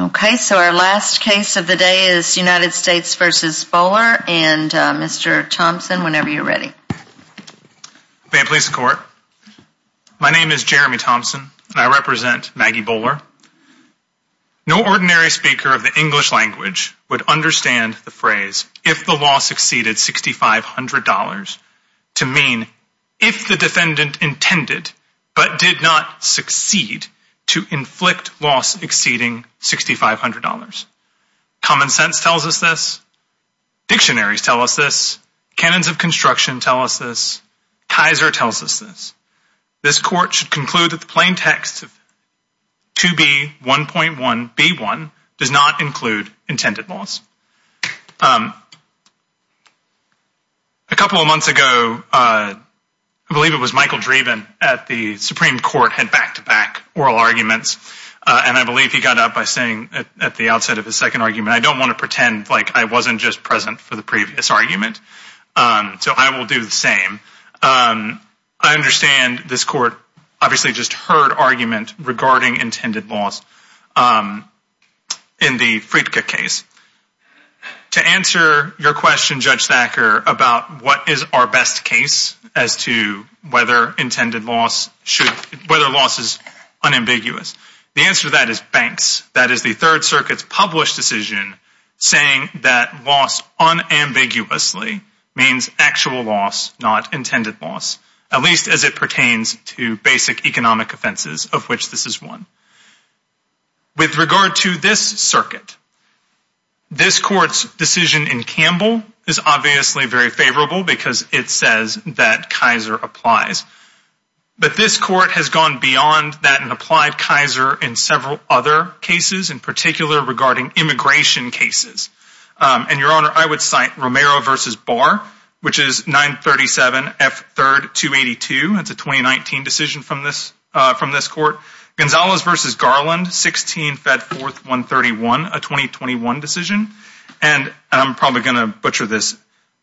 Okay, so our last case of the day is United States v. Boler, and Mr. Thompson, whenever you're ready. May it please the court. My name is Jeremy Thompson, and I represent Maggie Boler. No ordinary speaker of the English language would understand the phrase, if the law succeeded $6,500, to mean if the defendant intended but did not succeed to inflict loss exceeding $6,500. Common sense tells us this. Dictionaries tell us this. Canons of construction tell us this. Kaiser tells us this. This court should conclude that the plain text of 2B.1.1.B.1 does not include intended loss. A couple of months ago, I believe it was Michael Dreeben at the Supreme Court had back-to-back oral arguments, and I believe he got up by saying at the outset of his second argument, I don't want to pretend like I wasn't just present for the previous argument, so I will do the same. I understand this court obviously just heard argument regarding intended loss in the Friedka case. To answer your question, Judge Thacker, about what is our best case as to whether intended loss should, whether loss is unambiguous, the answer to that is Banks. That is the Third Circuit's published decision saying that loss unambiguously means actual loss, not intended loss, at least as it pertains to basic economic offenses of which this is one. With regard to this circuit, this court's decision in Campbell is obviously very favorable because it says that Kaiser applies. But this court has gone beyond that and applied Kaiser in several other cases, in particular regarding immigration cases. Your Honor, I would cite Romero v. Barr, which is 937 F. 3rd. 282. That's a 2019 decision from this court. Gonzalez v. Garland, 16 Fed. 4th. 131, a 2021 decision. And I'm probably going to butcher this,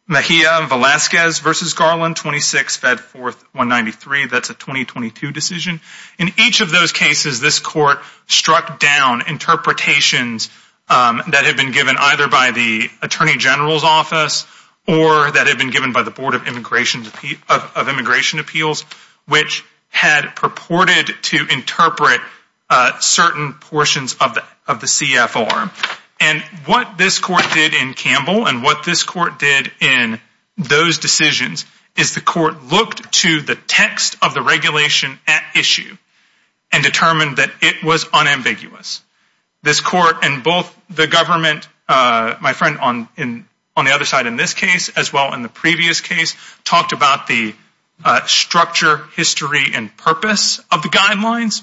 Mejia-Velasquez v. Garland, 26 Fed. 4th. 193, that's a 2022 decision. In each of those cases, this court struck down interpretations that had been given either by the Attorney General's office or that had been given by the Board of Immigration Appeals, which had purported to interpret certain portions of the CFR. And what this court did in Campbell and what this court did in those decisions is the court looked to the text of the regulation at issue and determined that it was unambiguous. This court and both the government, my friend on the other side in this case as well in the previous case, talked about the structure, history, and purpose of the guidelines.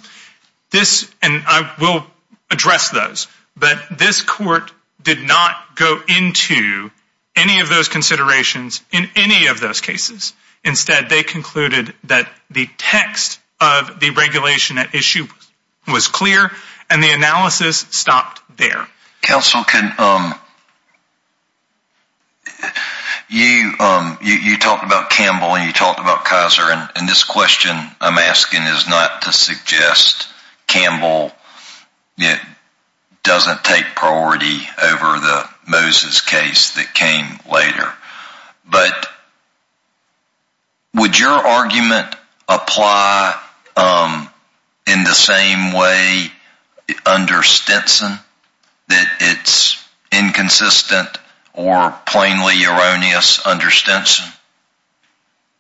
And I will address those, but this court did not go into any of those considerations in any of those cases. Instead, they concluded that the text of the regulation at issue was clear and the analysis stopped there. Counsel, you talked about Campbell and you talked about Kaiser. And this question I'm asking is not to suggest Campbell doesn't take priority over the Moses case that came later. But would your argument apply in the same way under Stinson that it's inconsistent or plainly erroneous under Stinson?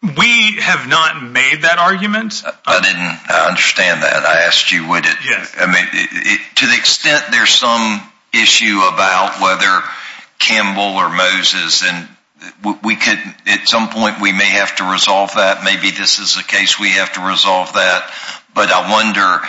We have not made that argument. I didn't understand that. I asked you would it. To the extent there's some issue about whether Campbell or Moses, at some point we may have to resolve that. Maybe this is the case we have to resolve that. But I wonder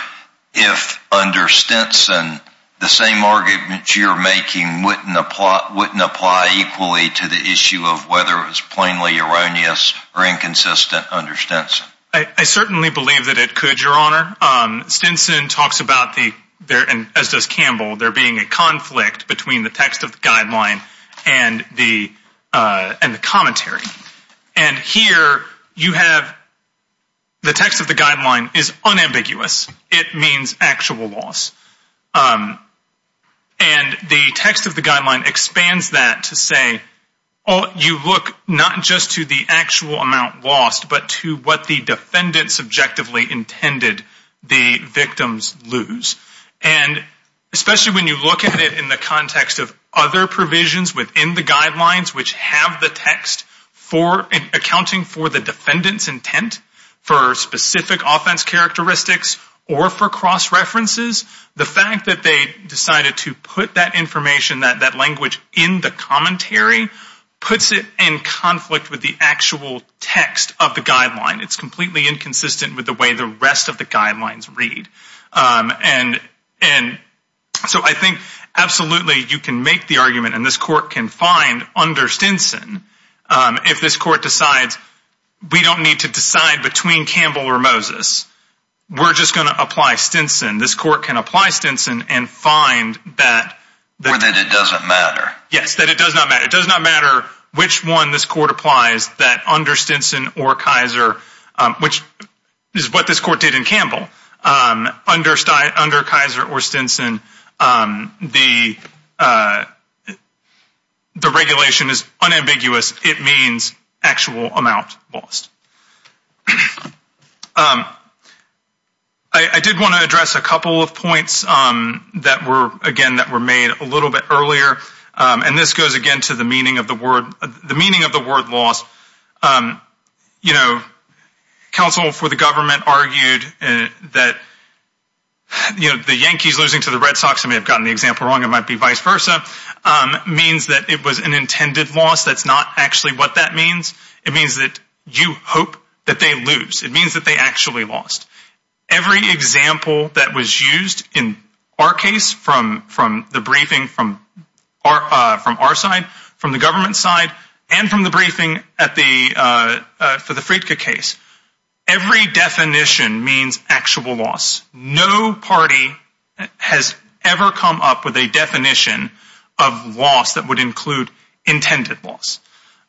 if under Stinson the same argument you're making wouldn't apply equally to the issue of whether it was plainly erroneous or inconsistent under Stinson. I certainly believe that it could, Your Honor. Stinson talks about, as does Campbell, there being a conflict between the text of the guideline and the commentary. And here you have the text of the guideline is unambiguous. It means actual loss. And the text of the guideline expands that to say you look not just to the actual amount lost but to what the defendant subjectively intended the victims lose. And especially when you look at it in the context of other provisions within the guidelines which have the text accounting for the defendant's intent for specific offense characteristics or for cross-references, the fact that they decided to put that information, that language, in the commentary puts it in conflict with the actual text of the guideline. It's completely inconsistent with the way the rest of the guidelines read. And so I think absolutely you can make the argument, and this Court can find under Stinson, if this Court decides we don't need to decide between Campbell or Moses. We're just going to apply Stinson. This Court can apply Stinson and find that... Or that it doesn't matter. Yes, that it does not matter. It does not matter which one this Court applies that under Stinson or Kaiser, which is what this Court did in Campbell. Under Kaiser or Stinson, the regulation is unambiguous. It means actual amount lost. I did want to address a couple of points that were, again, that were made a little bit earlier. And this goes, again, to the meaning of the word lost. You know, counsel for the government argued that the Yankees losing to the Red Sox, I may have gotten the example wrong, it might be vice versa, means that it was an intended loss. That's not actually what that means. It means that you hope that they lose. It means that they actually lost. Every example that was used in our case from the briefing from our side, from the government side, and from the briefing for the Friedka case, every definition means actual loss. No party has ever come up with a definition of loss that would include intended loss.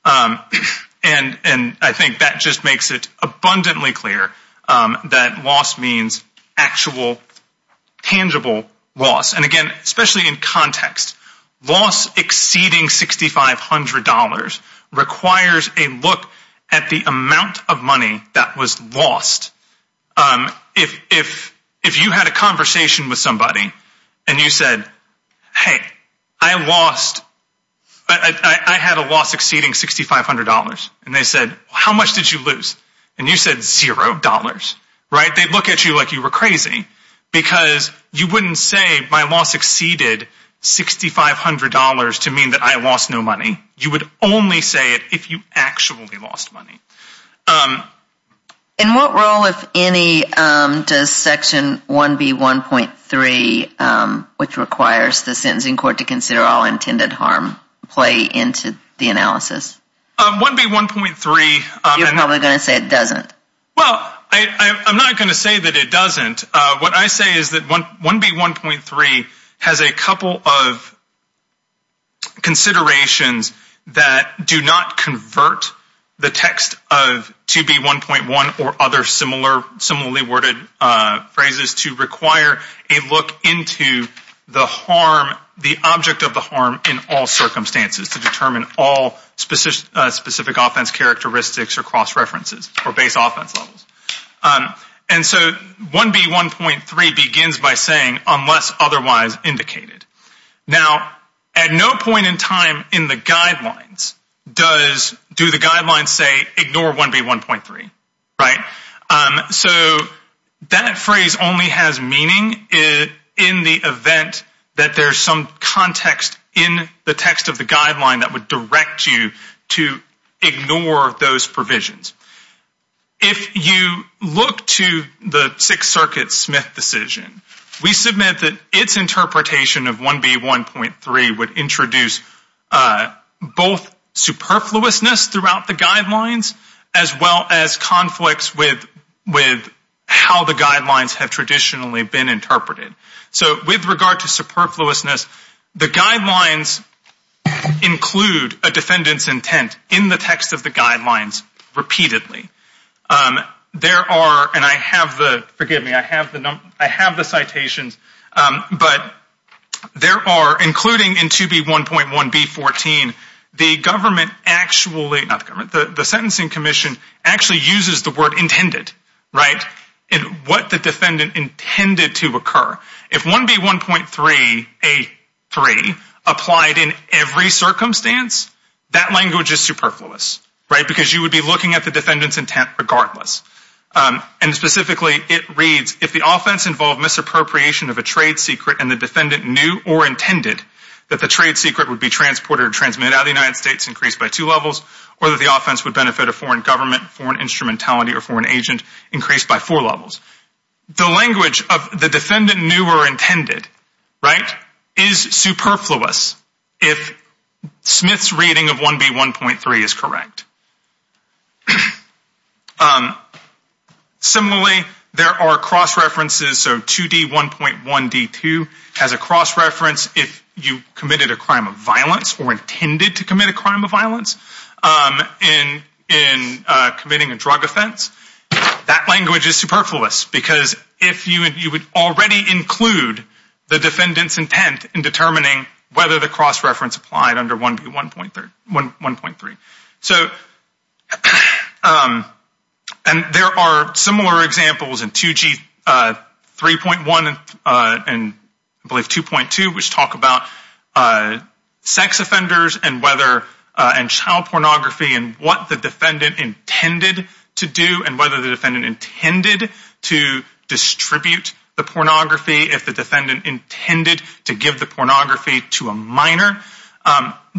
And I think that just makes it abundantly clear that loss means actual, tangible loss. And again, especially in context, loss exceeding $6,500 requires a look at the amount of money that was lost. If you had a conversation with somebody and you said, hey, I lost, I had a loss exceeding $6,500. And they said, how much did you lose? And you said $0. Right? They'd look at you like you were crazy. Because you wouldn't say my loss exceeded $6,500 to mean that I lost no money. You would only say it if you actually lost money. In what role, if any, does Section 1B1.3, which requires the sentencing court to consider all intended harm, play into the analysis? 1B1.3 You're probably going to say it doesn't. Well, I'm not going to say that it doesn't. What I say is that 1B1.3 has a couple of considerations that do not convert the text of 2B1.1 or other similarly worded phrases to require a look into the harm, the object of the harm, in all circumstances. To determine all specific offense characteristics or cross-references or base offense levels. And so 1B1.3 begins by saying unless otherwise indicated. Now, at no point in time in the guidelines does, do the guidelines say ignore 1B1.3. Right? So that phrase only has meaning in the event that there's some context in the text of the guideline that would direct you to ignore those provisions. If you look to the Sixth Circuit Smith decision, we submit that its interpretation of 1B1.3 would introduce both superfluousness throughout the guidelines as well as conflicts with how the guidelines have traditionally been interpreted. So with regard to superfluousness, the guidelines include a defendant's intent in the text of the guidelines repeatedly. There are, and I have the, forgive me, I have the citations, but there are, including in 2B1.1B14, the government actually, not the government, the Sentencing Commission actually uses the word intended. Right? And what the defendant intended to occur. If 1B1.3A3 applied in every circumstance, that language is superfluous. Right? Because you would be looking at the defendant's intent regardless. And specifically it reads, if the offense involved misappropriation of a trade secret and the defendant knew or intended that the trade secret would be transported or transmitted out of the United States increased by two levels, or that the offense would benefit a foreign government, foreign instrumentality, or foreign agent increased by four levels. The language of the defendant knew or intended, right, is superfluous if Smith's reading of 1B1.3 is correct. Similarly, there are cross-references, so 2D1.1D2 has a cross-reference if you committed a crime of violence or intended to commit a crime of violence in committing a drug offense. That language is superfluous because if you would already include the defendant's intent in determining whether the cross-reference applied under 1B1.3. And there are similar examples in 2G3.1 and I believe 2.2 which talk about sex offenders and child pornography and what the defendant intended to do and whether the defendant intended to distribute the pornography if the defendant intended to give the pornography to a minor.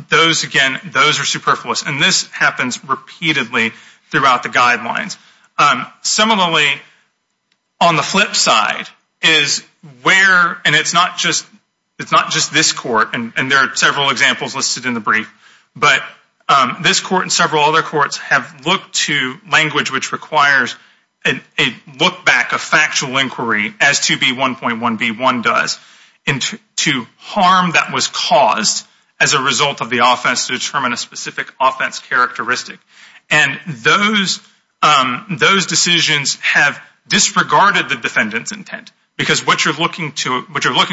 Those again, those are superfluous and this happens repeatedly throughout the guidelines. Similarly, on the flip side is where, and it's not just this court, and there are several examples listed in the brief, but this court and several other courts have looked to language which requires a look back, a factual inquiry as 2B1.1B1 does into harm that was caused as a result of the offense to determine a specific offense characteristic. And those decisions have disregarded the defendant's intent because what you're looking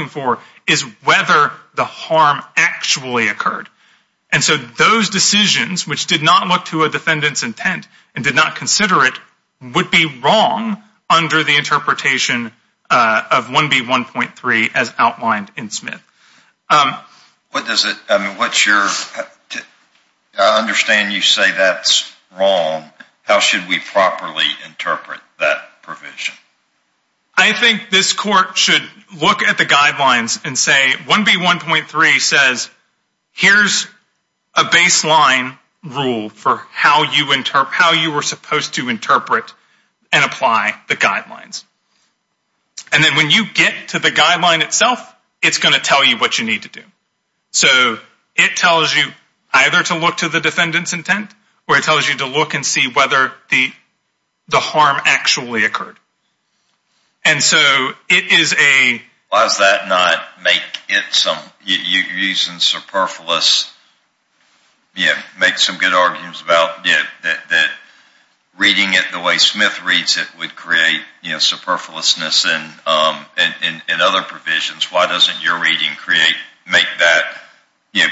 for is whether the harm actually occurred. And so those decisions which did not look to a defendant's intent and did not consider it would be wrong under the interpretation of 1B1.3 as outlined in Smith. I understand you say that's wrong. How should we properly interpret that provision? I think this court should look at the guidelines and say 1B1.3 says here's a baseline rule for how you were supposed to interpret and apply the guidelines. And then when you get to the guideline itself, it's going to tell you what you need to do. So it tells you either to look to the defendant's intent or it tells you to look and see whether the harm actually occurred. And so it is a... Why does that not make it some, you're using superfluous, make some good arguments about that reading it the way Smith reads it would create superfluousness in other provisions. Why doesn't your reading create, make that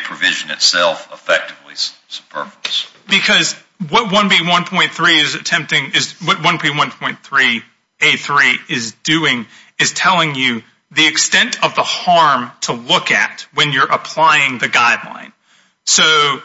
provision itself effectively superfluous? Because what 1B1.3 is attempting, what 1B1.3A3 is doing is telling you the extent of the harm to look at when you're applying the guideline. So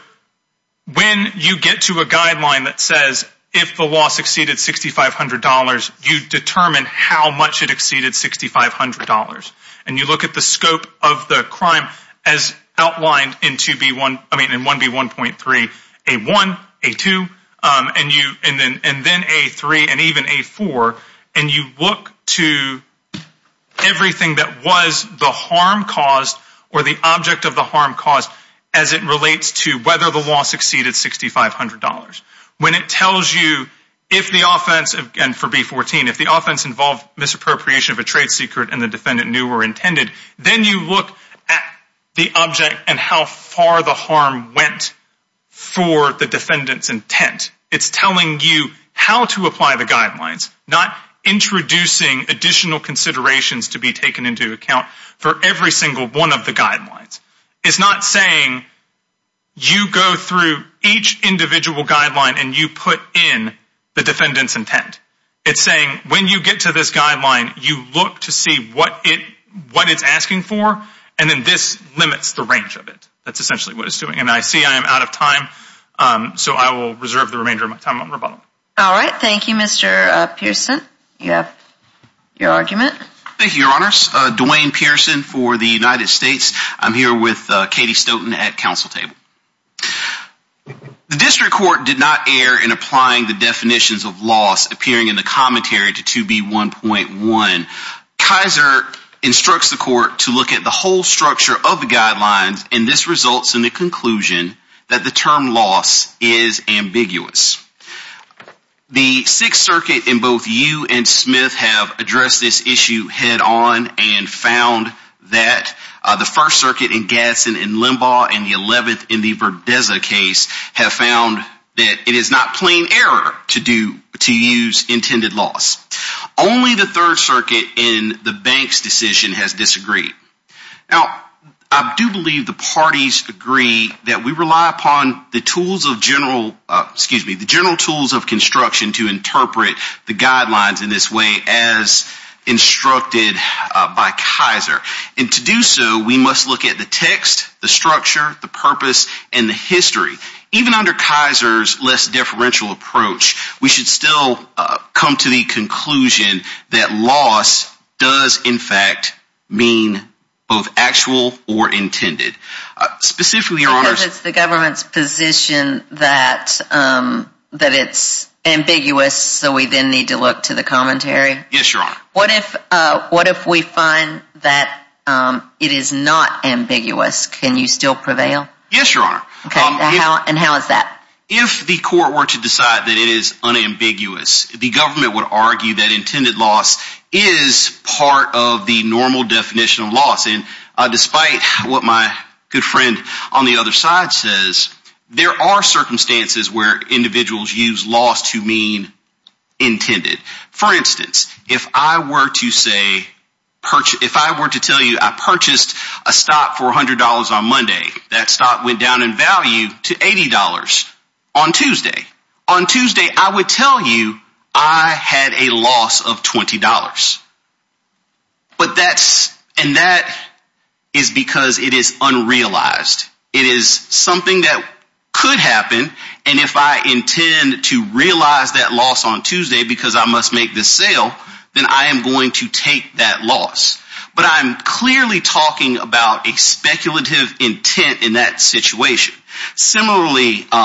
when you get to a guideline that says if the loss exceeded $6,500, you determine how much it exceeded $6,500. And you look at the scope of the crime as outlined in 1B1.3A1, A2, and then A3 and even A4. And you look to everything that was the harm caused or the object of the harm caused as it relates to whether the loss exceeded $6,500. When it tells you if the offense, and for B14, if the offense involved misappropriation of a trade secret and the defendant knew or intended, then you look at the object and how far the harm went for the defendant's intent. It's telling you how to apply the guidelines, not introducing additional considerations to be taken into account for every single one of the guidelines. It's not saying you go through each individual guideline and you put in the defendant's intent. It's saying when you get to this guideline, you look to see what it's asking for, and then this limits the range of it. That's essentially what it's doing. And I see I am out of time, so I will reserve the remainder of my time on rebuttal. All right. Thank you, Mr. Pearson. You have your argument. Thank you, Your Honors. Dwayne Pearson for the United States. I'm here with Katie Stoughton at counsel table. The district court did not err in applying the definitions of loss appearing in the commentary to 2B1.1. Kaiser instructs the court to look at the whole structure of the guidelines, and this results in the conclusion that the term loss is ambiguous. The 6th Circuit in both you and Smith have addressed this issue head on and found that the 1st Circuit in Gadsden and Limbaugh and the 11th in the Verdeza case have found that it is not plain error to use intended loss. Only the 3rd Circuit in the Banks decision has disagreed. Now, I do believe the parties agree that we rely upon the tools of general, excuse me, the general tools of construction to interpret the guidelines in this way as instructed by Kaiser. And to do so, we must look at the text, the structure, the purpose, and the history. Even under Kaiser's less deferential approach, we should still come to the conclusion that loss does, in fact, mean both actual or intended. Specifically, Your Honors... Because it's the government's position that it's ambiguous, so we then need to look to the commentary? Yes, Your Honor. What if we find that it is not ambiguous? Can you still prevail? Yes, Your Honor. And how is that? If the court were to decide that it is unambiguous, the government would argue that intended loss is part of the normal definition of loss. And despite what my good friend on the other side says, there are circumstances where individuals use loss to mean intended. For instance, if I were to tell you I purchased a stock for $100 on Monday, that stock went down in value to $80 on Tuesday. On Tuesday, I would tell you I had a loss of $20. And that is because it is unrealized. It is something that could happen, and if I intend to realize that loss on Tuesday because I must make this sale, then I am going to take that loss. But I am clearly talking about a speculative intent in that situation. Similarly... Is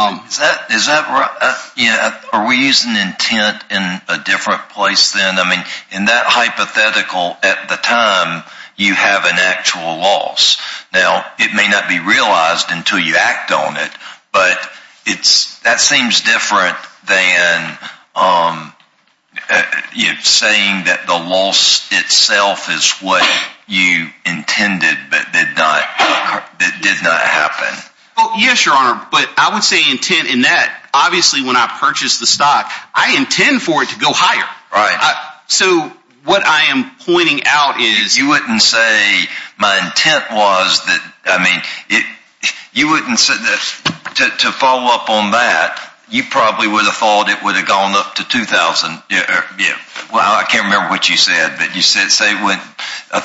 that right? Are we using intent in a different place then? In that hypothetical, at the time, you have an actual loss. Now, it may not be realized until you act on it, but that seems different than saying that the loss itself is what you intended but did not happen. Yes, Your Honor, but I would say intent in that. Obviously, when I purchased the stock, I intend for it to go higher. Right. So what I am pointing out is... You wouldn't say my intent was... I mean, to follow up on that, you probably would have thought it would have gone up to $2,000. Well, I can't remember what you said, but you said it went $1,000.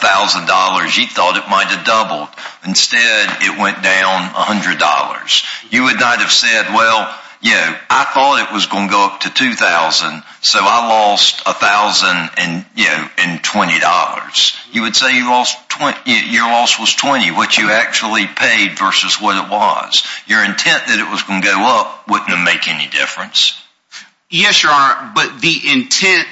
You thought it might have doubled. Instead, it went down $100. You would not have said, well, I thought it was going to go up to $2,000, so I lost $1,020. You would say your loss was $20, which you actually paid versus what it was. Your intent that it was going to go up wouldn't have made any difference. Yes, Your Honor, but the intent,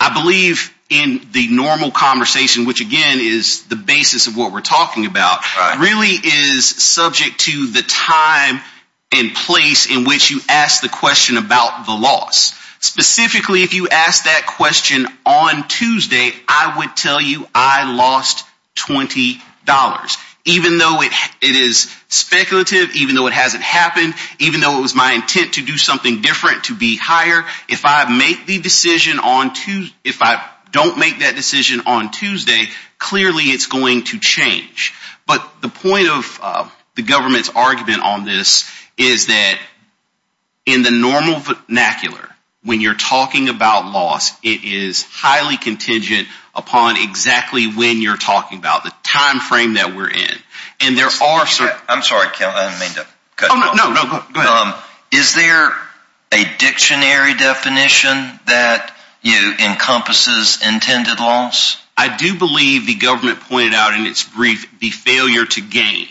I believe in the normal conversation, which again is the basis of what we are talking about, really is subject to the time and place in which you ask the question about the loss. Specifically, if you ask that question on Tuesday, I would tell you I lost $20. Even though it is speculative, even though it hasn't happened, even though it was my intent to do something different, to be higher, if I don't make that decision on Tuesday, clearly it's going to change. But the point of the government's argument on this is that in the normal vernacular, when you're talking about loss, it is highly contingent upon exactly when you're talking about, the time frame that we're in. I'm sorry, I didn't mean to cut you off. No, no, go ahead. Is there a dictionary definition that encompasses intended loss? I do believe the government pointed out in its brief the failure to gain,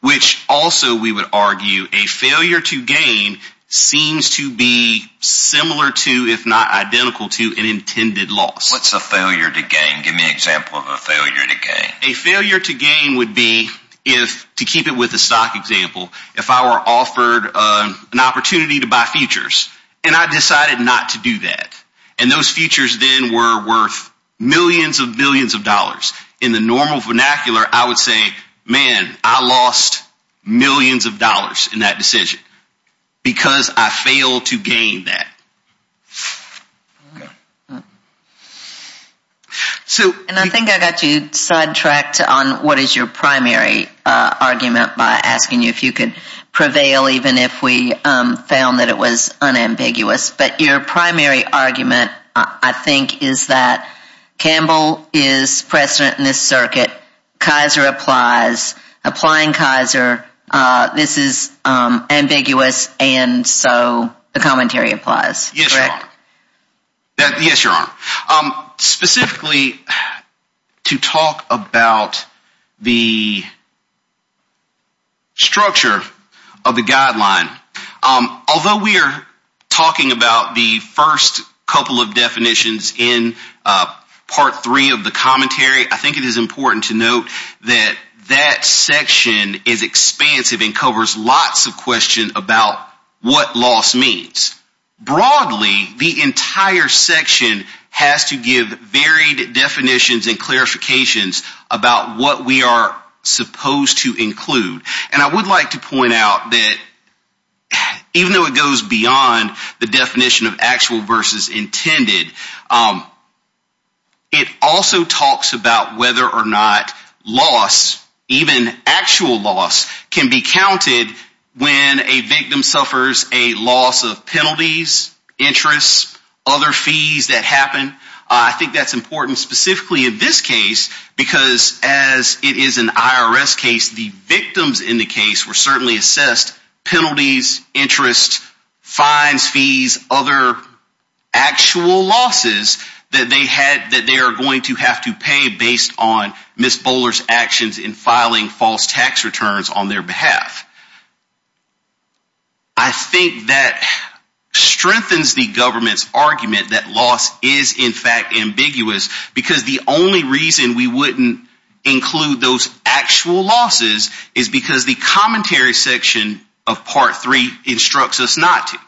which also we would argue a failure to gain seems to be similar to, if not identical to, an intended loss. What's a failure to gain? Give me an example of a failure to gain. A failure to gain would be, to keep it with a stock example, if I were offered an opportunity to buy futures, and I decided not to do that. And those futures then were worth millions and millions of dollars. In the normal vernacular, I would say, man, I lost millions of dollars in that decision because I failed to gain that. And I think I got you sidetracked on what is your primary argument by asking you if you could prevail even if we found that it was unambiguous. But your primary argument, I think, is that Campbell is president in this circuit, Kaiser applies, applying Kaiser, this is ambiguous, and so the commentary applies. Yes, Your Honor. Yes, Your Honor. Specifically, to talk about the structure of the guideline, although we are talking about the first couple of definitions in Part 3 of the commentary, I think it is important to note that that section is expansive and covers lots of questions about what loss means. Broadly, the entire section has to give varied definitions and clarifications about what we are supposed to include. And I would like to point out that even though it goes beyond the definition of actual versus intended, it also talks about whether or not loss, even actual loss, can be counted when a victim suffers a loss of penalties, interest, other fees that happen. I think that is important specifically in this case because as it is an IRS case, the victims in the case were certainly assessed penalties, interest, fines, fees, other actual losses that they are going to have to pay based on Ms. Bowler's actions in filing false tax returns on their behalf. I think that strengthens the government's argument that loss is in fact ambiguous because the only reason we wouldn't include those actual losses is because the commentary section of Part 3 instructs us not to.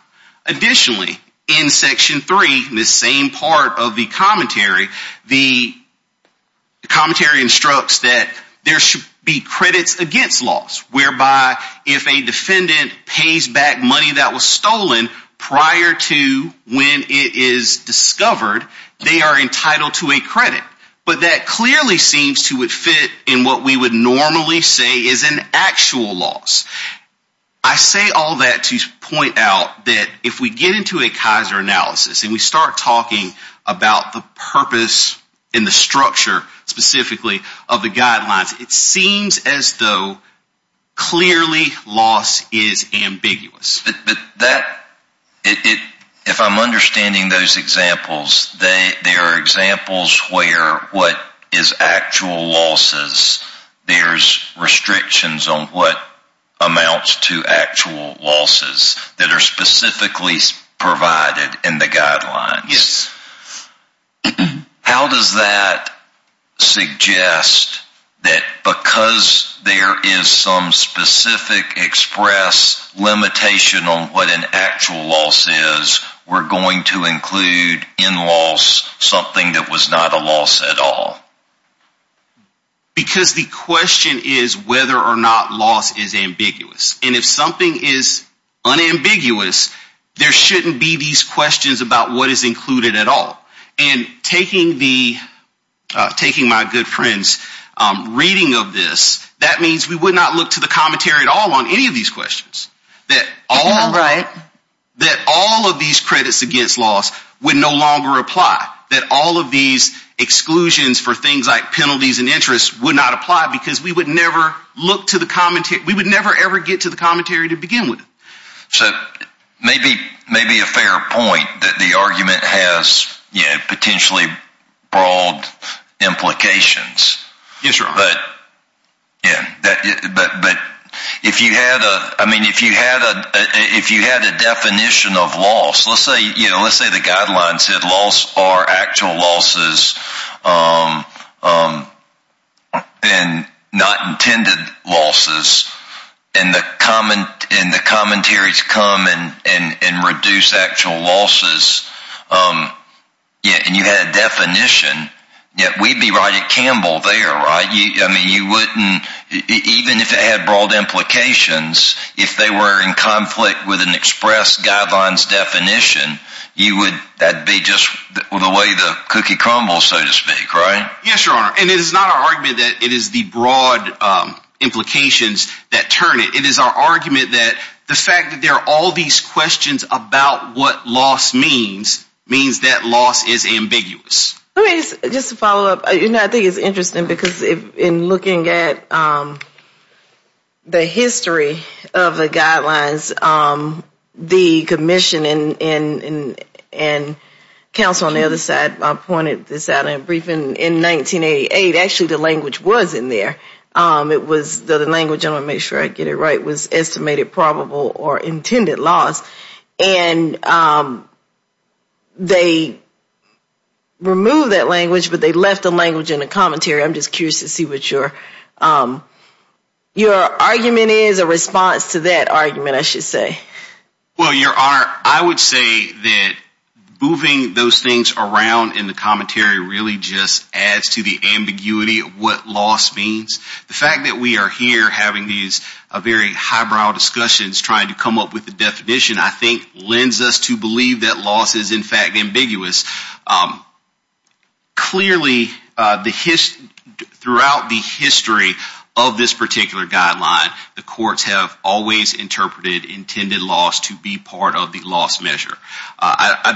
But that clearly seems to fit in what we would normally say is an actual loss. I say all that to point out that if we get into a Kaiser analysis and we start talking about the purpose and the structure specifically of the guidelines, it seems as though clearly loss is ambiguous. But if I'm understanding those examples, they are examples where what is actual losses, there's restrictions on what amounts to actual losses that are specifically provided in the guidelines. How does that suggest that because there is some specific express limitation on what an actual loss is, we're going to include in loss something that was not a loss at all? Because the question is whether or not loss is ambiguous. And if something is unambiguous, there shouldn't be these questions about what is included at all. And taking my good friend's reading of this, that means we would not look to the commentary at all on any of these questions. That all of these credits against loss would no longer apply. That all of these exclusions for things like penalties and interest would not apply because we would never ever get to the commentary to begin with. So maybe a fair point that the argument has potentially broad implications. Yes, sir. But if you had a definition of loss, let's say the guidelines said loss are actual losses and not intended losses and the commentaries come and reduce actual losses. And you had a definition, we'd be right at Campbell there, right? I mean, you wouldn't, even if it had broad implications, if they were in conflict with an express guidelines definition, that would be just the way the cookie crumbles, so to speak, right? Yes, your honor. And it is not our argument that it is the broad implications that turn it. It is our argument that the fact that there are all these questions about what loss means, means that loss is ambiguous. Let me just follow up. You know, I think it's interesting because in looking at the history of the guidelines, the commission and counsel on the other side pointed this out in a briefing in 1988. Actually, the language was in there. The language, I want to make sure I get it right, was estimated probable or intended loss. And they removed that language, but they left the language in the commentary. I'm just curious to see what your argument is, a response to that argument, I should say. Well, your honor, I would say that moving those things around in the commentary really just adds to the ambiguity of what loss means. The fact that we are here having these very highbrow discussions trying to come up with the definition, I think, lends us to believe that loss is in fact ambiguous. Clearly, throughout the history of this particular guideline, the courts have always interpreted intended loss to be part of the loss measure. I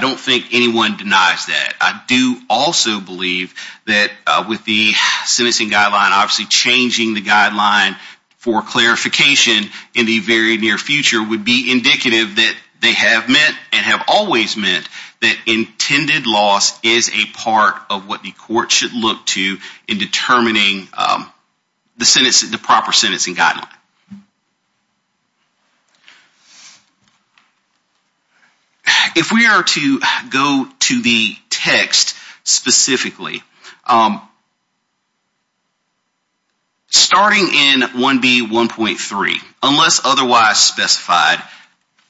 don't think anyone denies that. I do also believe that with the sentencing guideline obviously changing the guideline for clarification in the very near future would be indicative that they have meant and have always meant that intended loss is a part of what the court should look to in determining the proper sentencing guideline. If we are to go to the text specifically, starting in 1B.1.3, unless otherwise specified,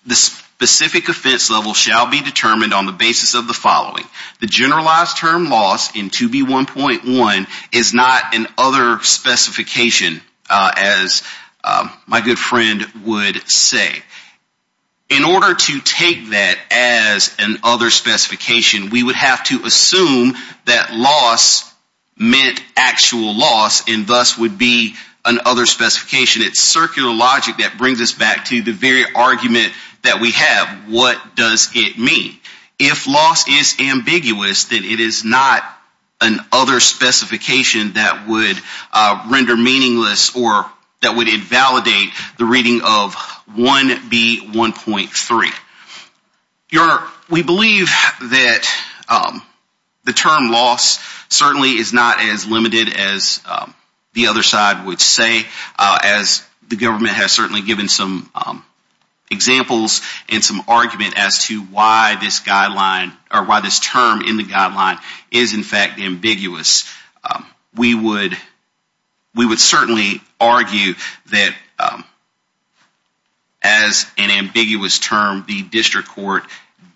the specific offense level shall be determined on the basis of the following. The generalized term loss in 2B.1.1 is not an other specification, as my good friend would say. In order to take that as an other specification, we would have to assume that loss meant actual loss and thus would be an other specification. It's circular logic that brings us back to the very argument that we have, what does it mean? If loss is ambiguous, then it is not an other specification that would render meaningless or that would invalidate the reading of 1B.1.3. Your Honor, we believe that the term loss certainly is not as limited as the other side would say, as the government has certainly given some examples and some argument as to why this term in the guideline is in fact ambiguous. We would certainly argue that as an ambiguous term, the district court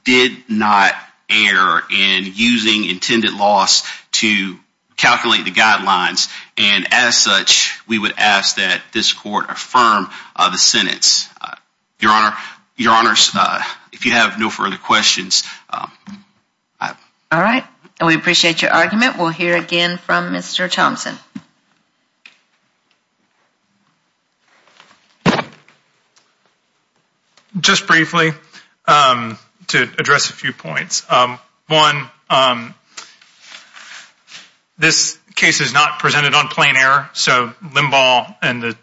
did not err in using intended loss to calculate the guidelines and as such, we would ask that this court affirm the sentence. Your Honor, if you have no further questions. All right. We appreciate your argument. We will hear again from Mr. Thompson. Just briefly, to address a few points. One, this case is not presented on plain error, so Limbaugh and the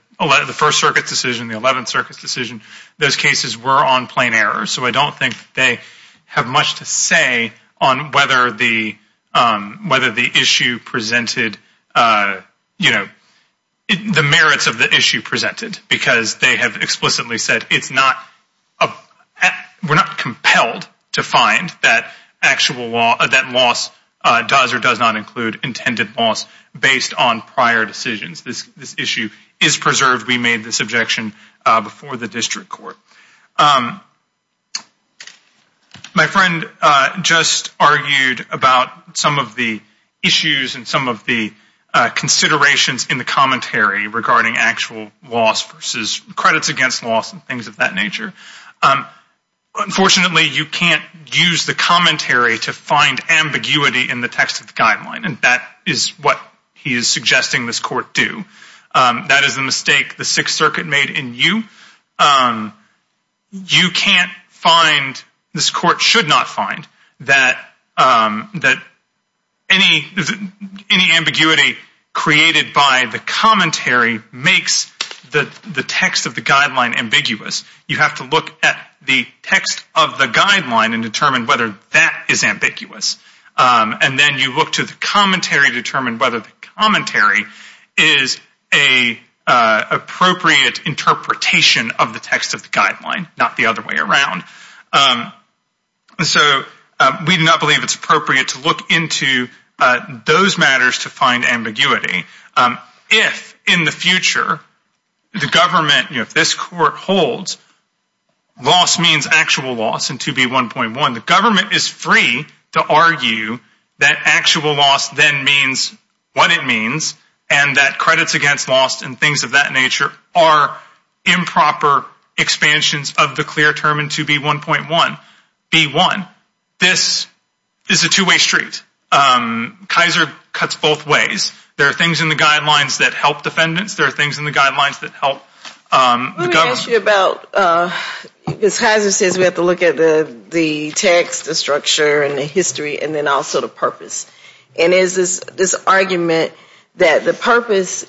First Circuit's decision, the Eleventh Circuit's decision, those cases were on plain error. So I don't think they have much to say on whether the issue presented, you know, the merits of the issue presented because they have explicitly said it's not, we're not compelled to find that actual loss, that loss does or does not include intended loss based on prior decisions. This issue is preserved. We made this objection before the district court. My friend just argued about some of the issues and some of the considerations in the commentary regarding actual loss versus credits against loss and things of that nature. Unfortunately, you can't use the commentary to find ambiguity in the text of the guideline, and that is what he is suggesting this court do. That is a mistake the Sixth Circuit made in you. You can't find, this court should not find, that any ambiguity created by the commentary makes the text of the guideline ambiguous. You have to look at the text of the guideline and determine whether that is ambiguous. And then you look to the commentary to determine whether the commentary is an appropriate interpretation of the text of the guideline, not the other way around. So we do not believe it's appropriate to look into those matters to find ambiguity. If in the future the government, if this court holds loss means actual loss in 2B1.1, the government is free to argue that actual loss then means what it means and that credits against loss and things of that nature are improper expansions of the clear term in 2B1.1. This is a two-way street. Kaiser cuts both ways. There are things in the guidelines that help defendants. There are things in the guidelines that help the government. Let me ask you about, because Kaiser says we have to look at the text, the structure, and the history, and then also the purpose. And there's this argument that the purpose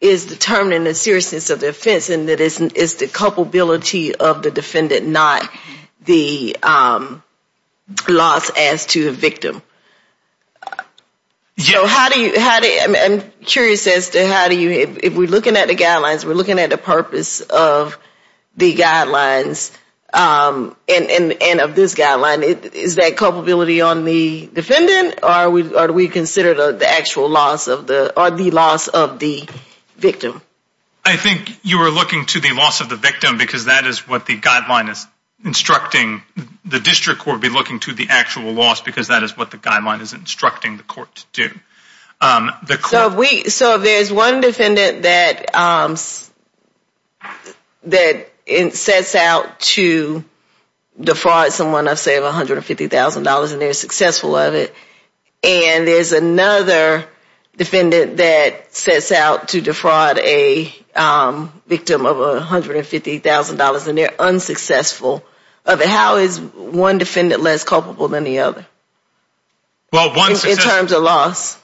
is determined in the seriousness of the offense and that it's the culpability of the defendant, not the loss as to the victim. So how do you, I'm curious as to how do you, if we're looking at the guidelines, we're looking at the purpose of the guidelines and of this guideline, is that culpability on the defendant or do we consider the actual loss of the, or the loss of the victim? I think you are looking to the loss of the victim because that is what the guideline is instructing. The district court would be looking to the actual loss because that is what the guideline is instructing the court to do. So there's one defendant that sets out to defraud someone, let's say, of $150,000 and they're successful of it, and there's another defendant that sets out to defraud a victim of $150,000 and they're unsuccessful of it. How is one defendant less culpable than the other? In terms of loss?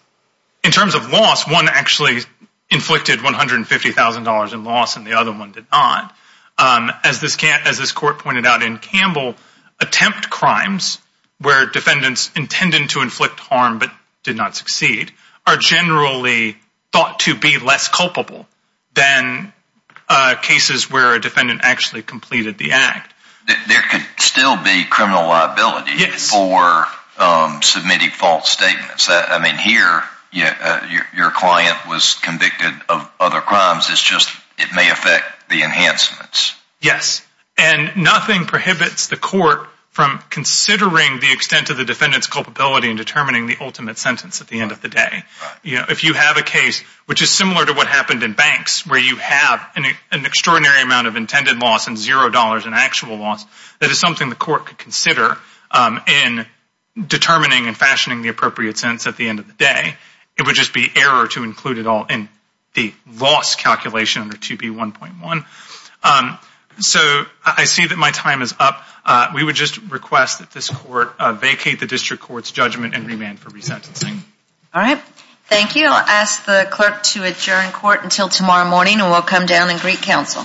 In terms of loss, one actually inflicted $150,000 in loss and the other one did not. As this court pointed out in Campbell, attempt crimes where defendants intended to inflict harm but did not succeed are generally thought to be less culpable than cases where a defendant actually completed the act. There could still be criminal liability for submitting false statements. I mean, here, your client was convicted of other crimes. It's just it may affect the enhancements. Yes. And nothing prohibits the court from considering the extent of the defendant's culpability in determining the ultimate sentence at the end of the day. If you have a case which is similar to what happened in banks where you have an extraordinary amount of intended loss and $0 in actual loss, that is something the court could consider in determining and fashioning the appropriate sentence at the end of the day. It would just be error to include it all in the loss calculation under 2B1.1. So I see that my time is up. We would just request that this court vacate the district court's judgment and remand for resentencing. All right. Thank you. I'll ask the clerk to adjourn court until tomorrow morning and we'll come down and greet counsel.